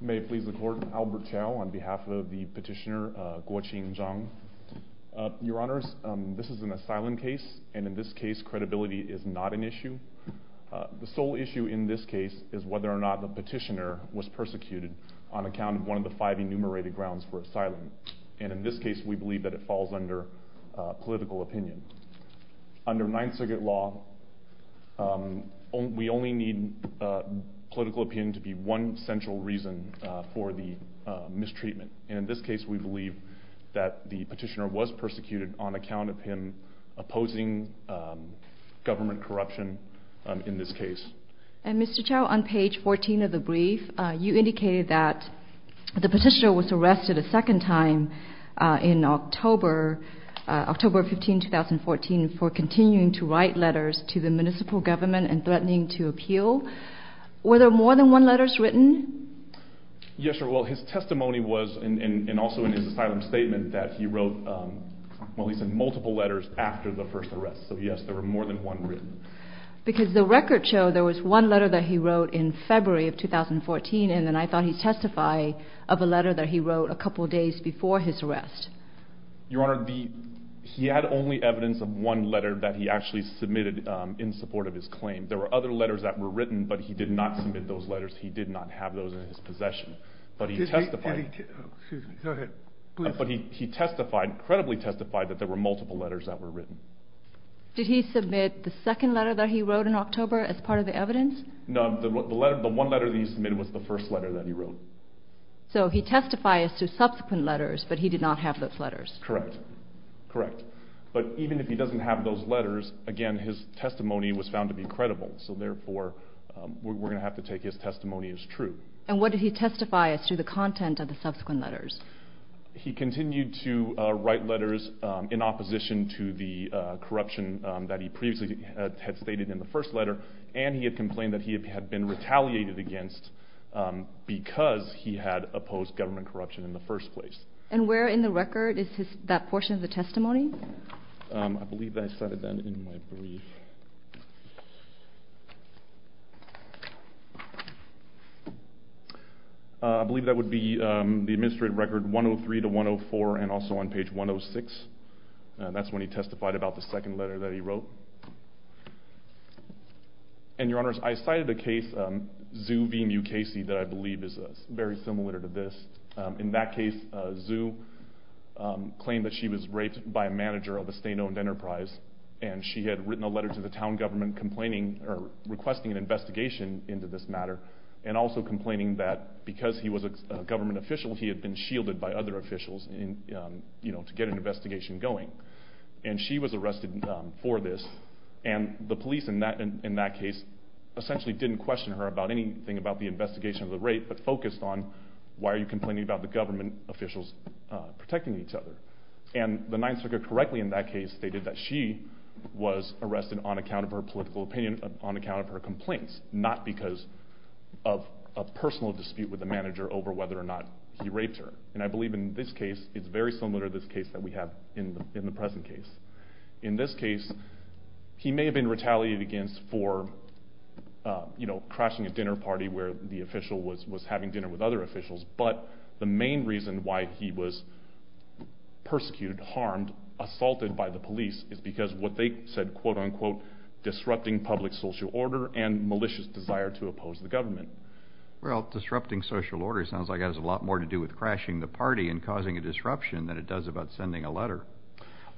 May it please the Court, Albert Chao on behalf of the petitioner Guoqing Zhang. Your Honours, this is an asylum case, and in this case credibility is not an issue. The sole issue in this case is whether or not the petitioner was persecuted on account of one of the five enumerated grounds for asylum. And in this case we believe that it falls under political opinion. Under Ninth Circuit Law, we only need political opinion to be one central reason for the mistreatment. And in this case we believe that the petitioner was persecuted on account of him opposing government corruption in this case. And Mr. Chao, on page 14 of the brief, you indicated that the petitioner was arrested a second time in October 15, 2014 for continuing to write letters to the municipal government and threatening to appeal. Were there more than one letters written? Yes, Your Honour. Well, his testimony was, and also in his asylum statement, that he wrote, well he sent multiple letters after the first arrest. So yes, there were more than one written. Because the record showed there was one letter that he wrote in February of 2014, and then I thought he'd testify of a letter that he wrote a couple days before his arrest. Your Honour, he had only evidence of one letter that he actually submitted in support of his claim. There were other letters that were written, but he did not submit those letters. He did not have those in his possession. But he testified... Excuse me, go ahead, please. But he testified, credibly testified, that there were multiple letters that were written. Did he submit the second letter that he wrote in October as part of the evidence? No, the one letter that he submitted was the first letter that he wrote. So he testifies to subsequent letters, but he did not have those letters. Correct, correct. But even if he doesn't have those letters, again, his testimony was found to be credible, so therefore we're going to have to take his testimony as true. And what did he testify as to the content of the subsequent letters? He continued to write letters in opposition to the corruption that he previously had stated in the first letter, and he had complained that he had been retaliated against because he had opposed government corruption in the first place. And where in the record is that portion of the testimony? I believe I cited that in my brief. I believe that would be the administrative record 103-104 and also on page 106. That's when he testified about the second letter that he wrote. And, Your Honors, I cited a case, Zhu v. Mukasey, that I believe is very similar to this. In that case, Zhu claimed that she was raped by a manager of a state-owned enterprise, and she had written a letter to the town government requesting an investigation into this matter and also complaining that because he was a government official, he had been shielded by other officials to get an investigation going. And she was arrested for this, and the police in that case essentially didn't question her about anything about the investigation of the rape but focused on why are you complaining about the government officials protecting each other. And the Ninth Circuit correctly in that case stated that she was arrested on account of her political opinion, on account of her complaints, not because of a personal dispute with the manager over whether or not he raped her. And I believe in this case, it's very similar to this case that we have in the present case. In this case, he may have been retaliated against for, you know, crashing a dinner party where the official was having dinner with other officials, but the main reason why he was persecuted, harmed, assaulted by the police is because what they said, quote-unquote, disrupting public social order and malicious desire to oppose the government. Well, disrupting social order sounds like it has a lot more to do with crashing the party and causing a disruption than it does about sending a letter.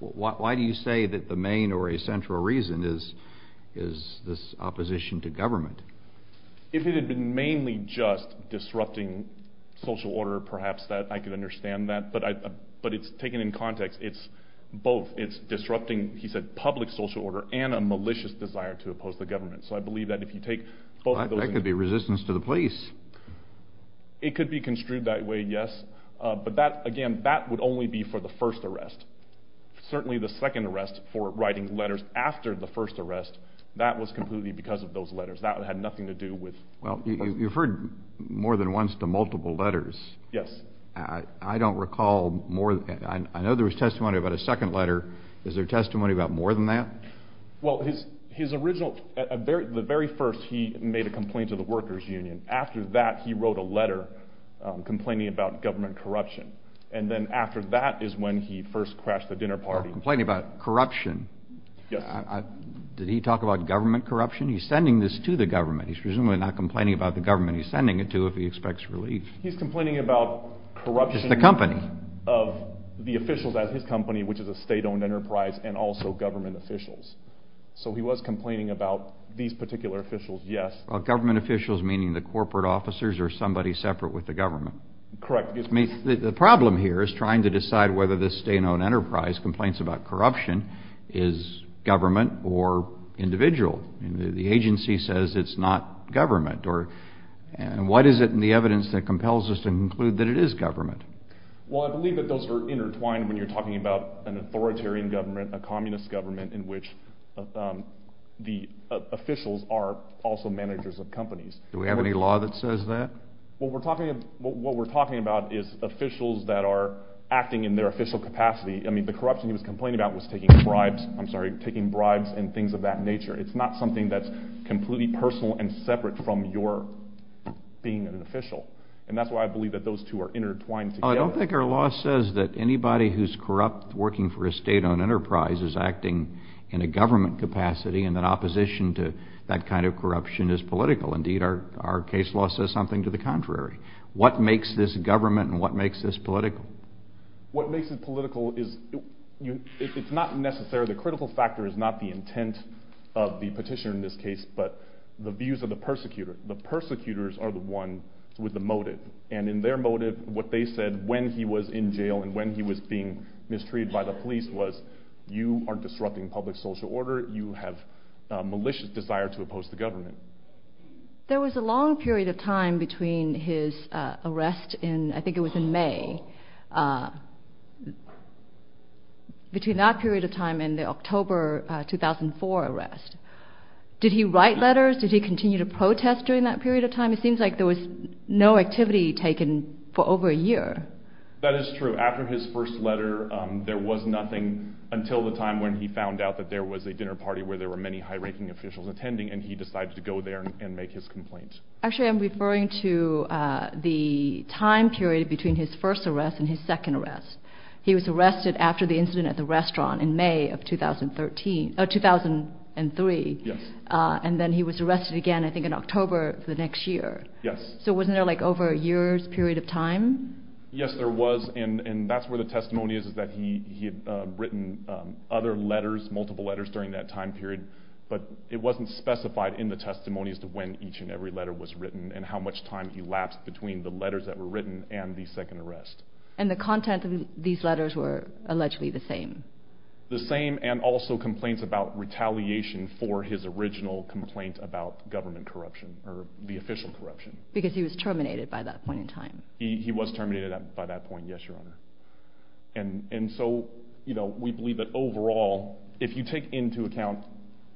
Why do you say that the main or essential reason is this opposition to government? If it had been mainly just disrupting social order, perhaps I could understand that, but it's taken in context. It's both. It's disrupting, he said, public social order and a malicious desire to oppose the government. So I believe that if you take both of those... That could be resistance to the police. It could be construed that way, yes, but that, again, that would only be for the first arrest. Certainly the second arrest for writing letters after the first arrest, that was completely because of those letters. That had nothing to do with... Well, you've heard more than once to multiple letters. Yes. I don't recall more than... I know there was testimony about a second letter. Is there testimony about more than that? Well, his original... the very first, he made a complaint to the workers' union. After that, he wrote a letter complaining about government corruption. And then after that is when he first crashed the dinner party. Complaining about corruption. Yes. Did he talk about government corruption? He's sending this to the government. He's presumably not complaining about the government he's sending it to if he expects relief. He's complaining about corruption... It's the company. ...of the officials at his company, which is a state-owned enterprise, and also government officials. So he was complaining about these particular officials, yes. Well, government officials meaning the corporate officers or somebody separate with the government. Correct. The problem here is trying to decide whether this state-owned enterprise complains about corruption, is government or individual. The agency says it's not government. And what is it in the evidence that compels us to conclude that it is government? Well, I believe that those are intertwined when you're talking about an authoritarian government, a communist government in which the officials are also managers of companies. Do we have any law that says that? What we're talking about is officials that are acting in their official capacity. I mean, the corruption he was complaining about was taking bribes, I'm sorry, taking bribes and things of that nature. It's not something that's completely personal and separate from your being an official. And that's why I believe that those two are intertwined together. I don't think our law says that anybody who's corrupt working for a state-owned enterprise is acting in a government capacity and that opposition to that kind of corruption is political. Indeed, our case law says something to the contrary. What makes this government and what makes this political? What makes it political is it's not necessarily the critical factor, it's not the intent of the petitioner in this case, but the views of the persecutor. The persecutors are the ones with the motive. And in their motive, what they said when he was in jail and when he was being mistreated by the police was, you are disrupting public social order, you have a malicious desire to oppose the government. There was a long period of time between his arrest in, I think it was in May, between that period of time and the October 2004 arrest. Did he write letters? Did he continue to protest during that period of time? It seems like there was no activity taken for over a year. That is true. After his first letter, there was nothing until the time when he found out that there was a dinner party where there were many high-ranking officials attending and he decided to go there and make his complaint. Actually, I'm referring to the time period between his first arrest and his second arrest. He was arrested after the incident at the restaurant in May of 2003 and then he was arrested again, I think, in October of the next year. Yes. So wasn't there like over a year's period of time? Yes, there was and that's where the testimony is that he had written other letters, multiple letters during that time period, but it wasn't specified in the testimony as to when each and every letter was written and how much time elapsed between the letters that were written and the second arrest. And the content of these letters were allegedly the same? The same and also complaints about retaliation for his original complaint about government corruption or the official corruption. Because he was terminated by that point in time? He was terminated by that point, yes, Your Honor. And so, you know, we believe that overall, if you take into account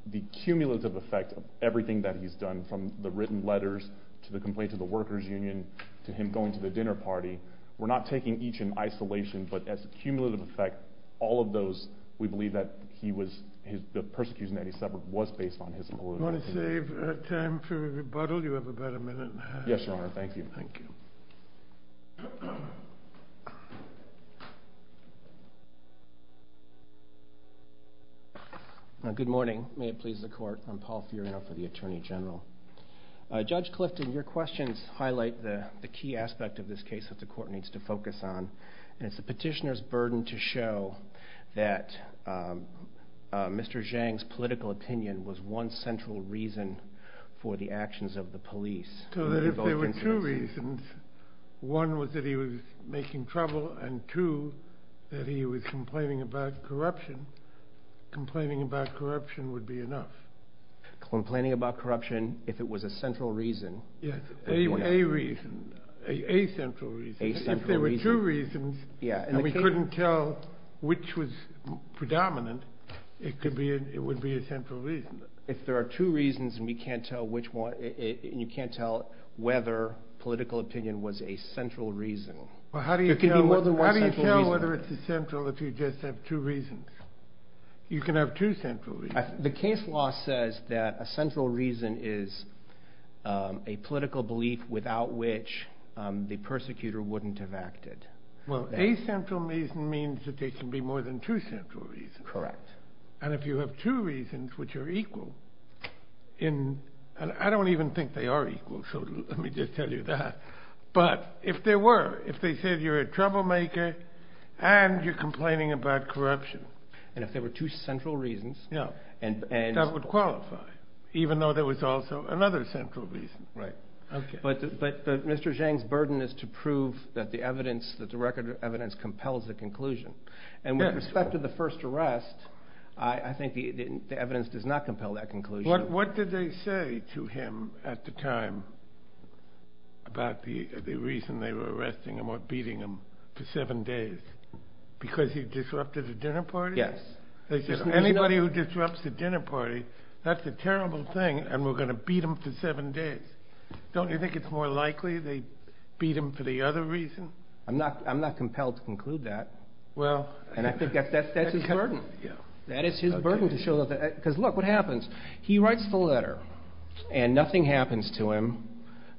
the cumulative effect of everything that he's done from the written letters to the complaint to the workers' union to him going to the dinner party, we're not taking each in isolation, but as a cumulative effect, all of those, we believe that he was, the persecution that he suffered was based on his malignant condition. I just want to save time for rebuttal. You have about a minute. Yes, Your Honor. Thank you. Good morning. May it please the Court. I'm Paul Furiano for the Attorney General. Judge Clifton, your questions highlight the key aspect of this case that the Court needs to focus on, and it's the petitioner's burden to show that Mr. Zhang's political opinion was one central reason for the actions of the police. So that if there were two reasons, one was that he was making trouble, and two, that he was complaining about corruption. Complaining about corruption would be enough. Complaining about corruption, if it was a central reason. Yes, a reason, a central reason. A central reason. If there were two reasons, and we couldn't tell which was predominant, it would be a central reason. If there are two reasons, and you can't tell whether political opinion was a central reason. How do you tell whether it's a central if you just have two reasons? You can have two central reasons. The case law says that a central reason is a political belief without which the persecutor wouldn't have acted. Well, a central reason means that there can be more than two central reasons. Correct. And if you have two reasons which are equal, and I don't even think they are equal, so let me just tell you that, but if there were, if they said you're a troublemaker and you're complaining about corruption. And if there were two central reasons. That would qualify, even though there was also another central reason. Right. But Mr. Zhang's burden is to prove that the evidence, that the record of evidence compels the conclusion. And with respect to the first arrest, I think the evidence does not compel that conclusion. What did they say to him at the time about the reason they were arresting him or beating him for seven days? Because he disrupted a dinner party? Yes. They said anybody who disrupts a dinner party, that's a terrible thing and we're going to beat them for seven days. Don't you think it's more likely they beat him for the other reason? I'm not compelled to conclude that. Well. And I think that's his burden. That is his burden to show that, because look what happens. He writes the letter and nothing happens to him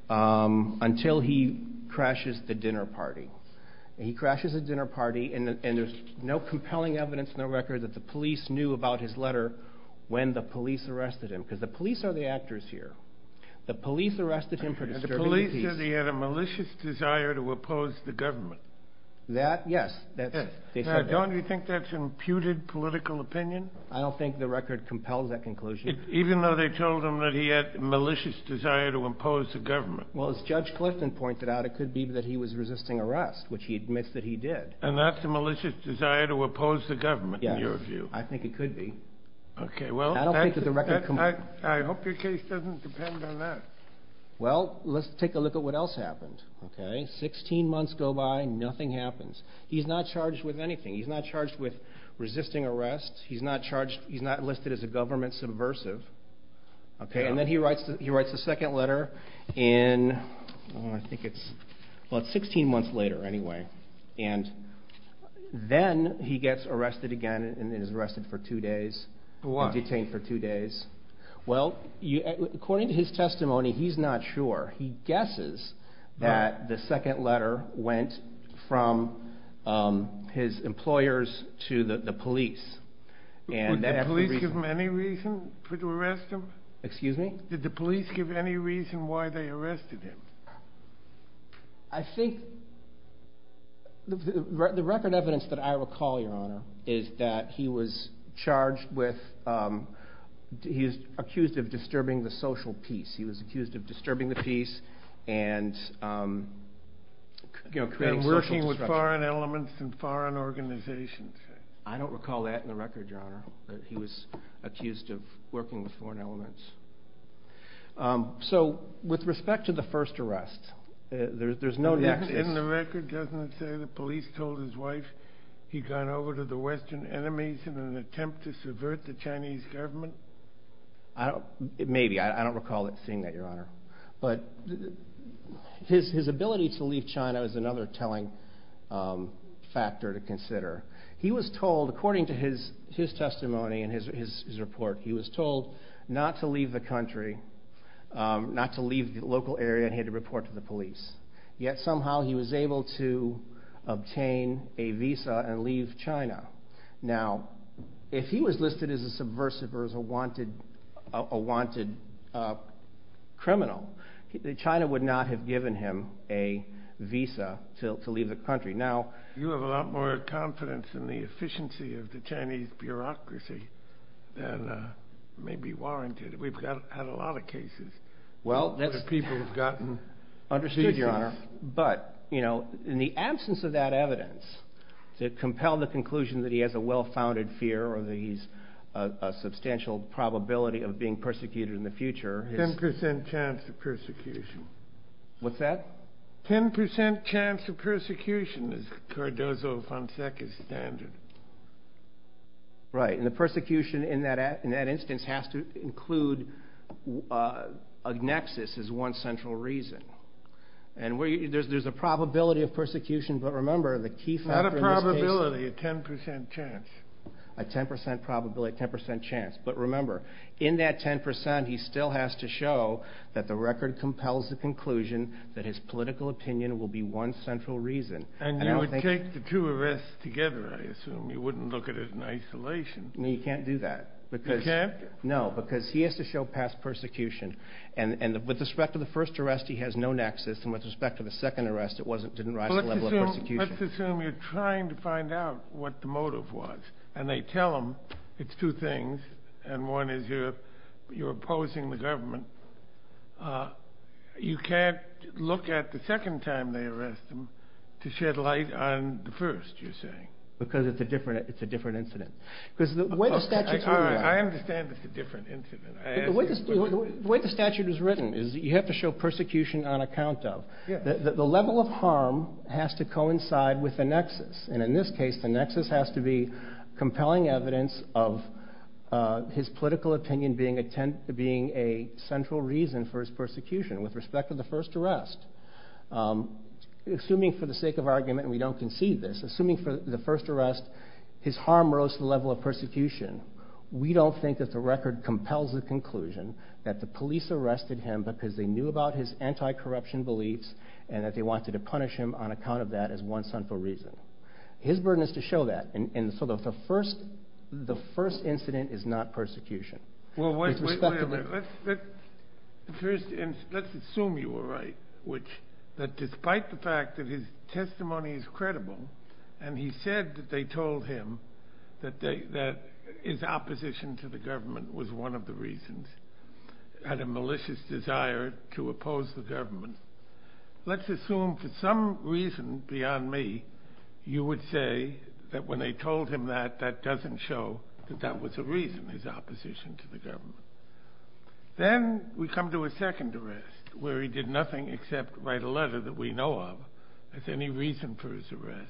until he crashes the dinner party. And he crashes the dinner party and there's no compelling evidence in the record that the police knew about his letter when the police arrested him. Because the police are the actors here. The police arrested him for disturbing the peace. The police said he had a malicious desire to oppose the government. That, yes. Don't you think that's imputed political opinion? I don't think the record compels that conclusion. Even though they told him that he had malicious desire to impose the government. Well, as Judge Clifton pointed out, it could be that he was resisting arrest, which he admits that he did. And that's a malicious desire to oppose the government, in your view. Yes, I think it could be. I don't think that the record compels that. I hope your case doesn't depend on that. Well, let's take a look at what else happened. Sixteen months go by, nothing happens. He's not charged with anything. He's not charged with resisting arrest. He's not listed as a government subversive. And then he writes the second letter in, I think it's, well it's 16 months later anyway. And then he gets arrested again and is arrested for two days. For what? And detained for two days. Well, according to his testimony, he's not sure. He guesses that the second letter went from his employers to the police. Did the police give him any reason to arrest him? Excuse me? Did the police give any reason why they arrested him? I think the record evidence that I recall, Your Honor, is that he was charged with, he was accused of disturbing the social peace. He was accused of disturbing the peace and creating social disruption. And working with foreign elements and foreign organizations. I don't recall that in the record, Your Honor, that he was accused of working with foreign elements. So, with respect to the first arrest, there's no nexus. In the record, doesn't it say the police told his wife he'd gone over to the Western enemies in an attempt to subvert the Chinese government? Maybe, I don't recall seeing that, Your Honor. But his ability to leave China is another telling factor to consider. He was told, according to his testimony and his report, he was told not to leave the country, not to leave the local area, and he had to report to the police. Yet, somehow, he was able to obtain a visa and leave China. Now, if he was listed as a subversive or as a wanted criminal, China would not have given him a visa to leave the country. You have a lot more confidence in the efficiency of the Chinese bureaucracy than may be warranted. We've had a lot of cases where people have gotten visas. Understood, Your Honor. But, you know, in the absence of that evidence to compel the conclusion that he has a well-founded fear or that he's a substantial probability of being persecuted in the future. Ten percent chance of persecution. What's that? Ten percent chance of persecution is Cardozo-Fonseca's standard. Right. And the persecution in that instance has to include a nexus as one central reason. And there's a probability of persecution, but remember, the key factor in this case is Not a probability, a ten percent chance. A ten percent probability, ten percent chance. But remember, in that ten percent, he still has to show that the record compels the conclusion that his political opinion will be one central reason. And you would take the two arrests together, I assume. You wouldn't look at it in isolation. No, you can't do that. You can't? No, because he has to show past persecution. And with respect to the first arrest, he has no nexus. And with respect to the second arrest, it didn't rise to the level of persecution. Let's assume you're trying to find out what the motive was. And they tell him it's two things. And one is you're opposing the government. You can't look at the second time they arrest him to shed light on the first, you're saying. Because it's a different incident. I understand it's a different incident. The way the statute is written is you have to show persecution on account of. The level of harm has to coincide with the nexus. And in this case, the nexus has to be compelling evidence of his political opinion being a central reason for his persecution with respect to the first arrest. Assuming for the sake of argument, and we don't concede this, assuming for the first arrest his harm rose to the level of persecution, we don't think that the record compels the conclusion that the police arrested him because they knew about his anti-corruption beliefs and that they wanted to punish him on account of that as one central reason. His burden is to show that. And so the first incident is not persecution. Let's assume you were right. That despite the fact that his testimony is credible, and he said that they told him that his opposition to the government was one of the reasons, had a malicious desire to oppose the government. Let's assume for some reason beyond me, you would say that when they told him that, that doesn't show that that was a reason, his opposition to the government. Then we come to a second arrest where he did nothing except write a letter that we know of as any reason for his arrest.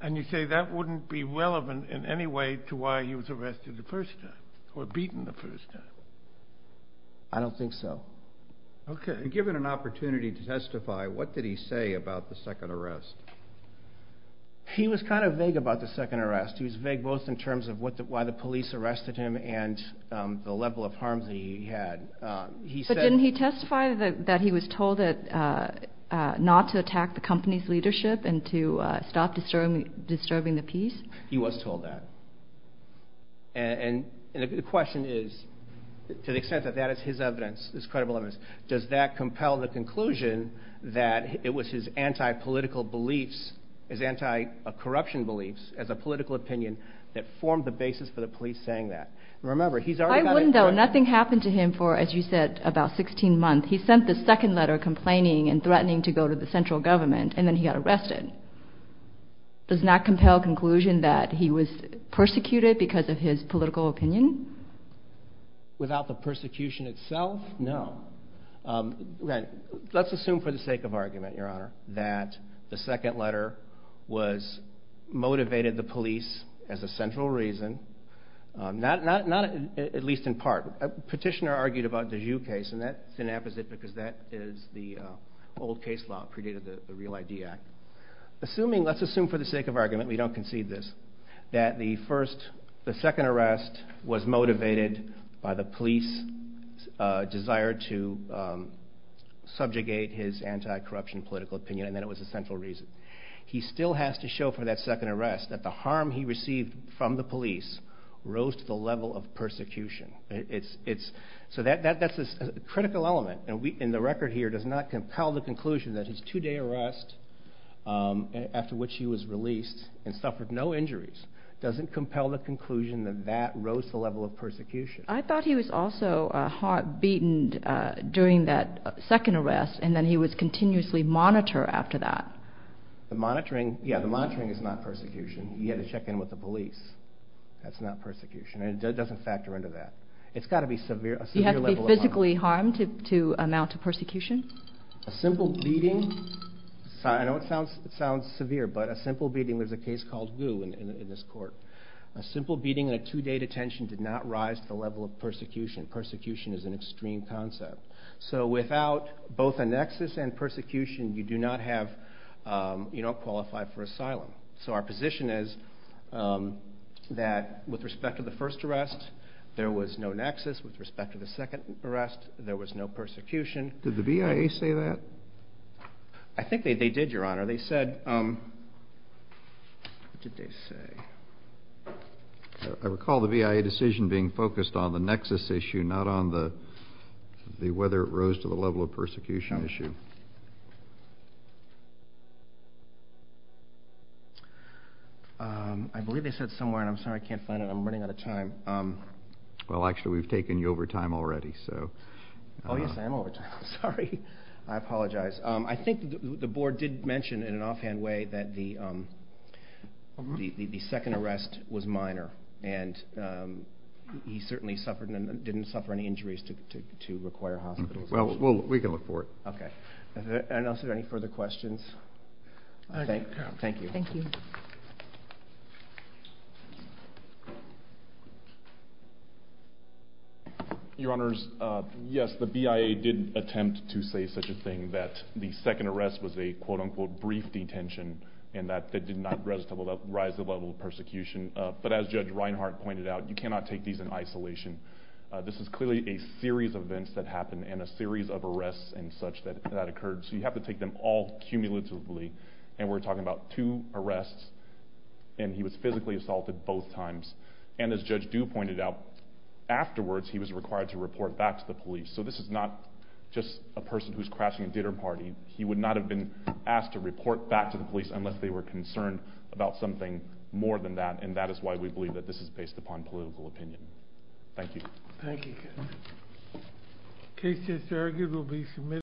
And you say that wouldn't be relevant in any way to why he was arrested the first time or beaten the first time? I don't think so. Okay. Given an opportunity to testify, what did he say about the second arrest? He was kind of vague about the second arrest. He was vague both in terms of why the police arrested him and the level of harm that he had. But didn't he testify that he was told not to attack the company's leadership and to stop disturbing the peace? He was told that. And the question is, to the extent that that is his evidence, his credible evidence, does that compel the conclusion that it was his anti-political beliefs, his anti-corruption beliefs as a political opinion, that formed the basis for the police saying that? I wouldn't know. Nothing happened to him for, as you said, about 16 months. He sent the second letter complaining and threatening to go to the central government and then he got arrested. Does that compel the conclusion that he was persecuted because of his political opinion? Without the persecution itself? No. Let's assume for the sake of argument, Your Honor, that the second letter was motivated the police as a central reason, not at least in part. A petitioner argued about the Jew case, and that's an apposite because that is the old case law predated the Real ID Act. Let's assume for the sake of argument, we don't concede this, that the second arrest was motivated by the police's desire to subjugate his anti-corruption political opinion and that it was a central reason. He still has to show for that second arrest that the harm he received from the police rose to the level of persecution. So that's a critical element, and the record here does not compel the conclusion that his two-day arrest, after which he was released and suffered no injuries, doesn't compel the conclusion that that rose to the level of persecution. I thought he was also heart-beaten during that second arrest and then he was continuously monitored after that. The monitoring is not persecution. He had to check in with the police. That's not persecution, and it doesn't factor into that. It's got to be a severe level of harm. He had to be physically harmed to amount to persecution? A simple beating. I know it sounds severe, but a simple beating was a case called Gu in this court. A simple beating and a two-day detention did not rise to the level of persecution. Persecution is an extreme concept. So without both a nexus and persecution, you don't qualify for asylum. So our position is that with respect to the first arrest, there was no nexus. With respect to the second arrest, there was no persecution. Did the BIA say that? I think they did, Your Honor. They said, what did they say? I recall the BIA decision being focused on the nexus issue, not on whether it rose to the level of persecution issue. I believe they said somewhere, and I'm sorry I can't find it. I'm running out of time. Well, actually, we've taken you over time already. Oh, yes, I am over time. I'm sorry. I apologize. I think the board did mention in an offhand way that the second arrest was minor, and he certainly didn't suffer any injuries to require hospitalization. Well, we can look for it. Okay. Are there any further questions? Thank you. Thank you. Your Honors, yes, the BIA did attempt to say such a thing that the second arrest was a quote-unquote brief detention and that it did not rise to the level of persecution. But as Judge Reinhart pointed out, you cannot take these in isolation. This is clearly a series of events that happened and a series of arrests and such that occurred. So you have to take them all cumulatively, and we're talking about two arrests, and he was physically assaulted both times. And as Judge Dew pointed out, afterwards he was required to report back to the police. So this is not just a person who's crashing a dinner party. He would not have been asked to report back to the police unless they were concerned about something more than that, and that is why we believe that this is based upon political opinion. Thank you. Thank you. The case is arguably submitted.